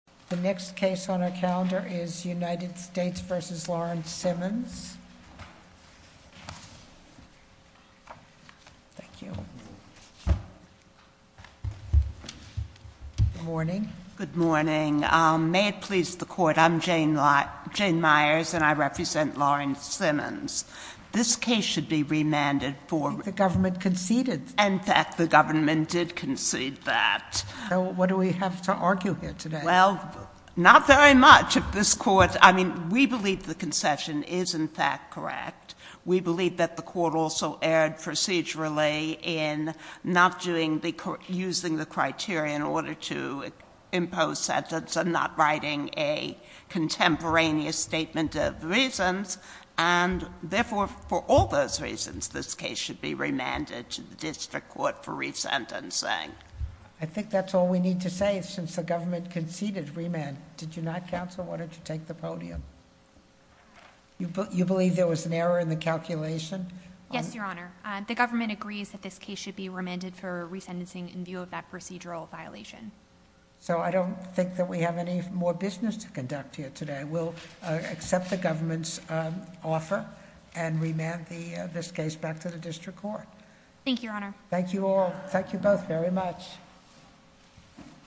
The next case on our calendar is United States v. Lawrence Simmons. Good morning. Good morning. May it please the Court, I'm Jane Myers and I represent Lawrence Simmons. This case should be remanded for- I think the government conceded. In fact, the government did concede that. What do we have to argue here today? Well, not very much. This Court, I mean, we believe the concession is in fact correct. We believe that the Court also erred procedurally in not using the criteria in order to impose sentence and not writing a contemporaneous statement of reasons. And therefore, for all those reasons, this case should be remanded to the District Court for resentencing. I think that's all we need to say since the government conceded remand. Did you not, Counsel? Why don't you take the podium? You believe there was an error in the calculation? Yes, Your Honor. The government agrees that this case should be remanded for resentencing in view of that procedural violation. So I don't think that we have any more business to conduct here today. We'll accept the government's offer and remand this case back to the District Court. Thank you, Your Honor. Thank you all. Thank you both very much.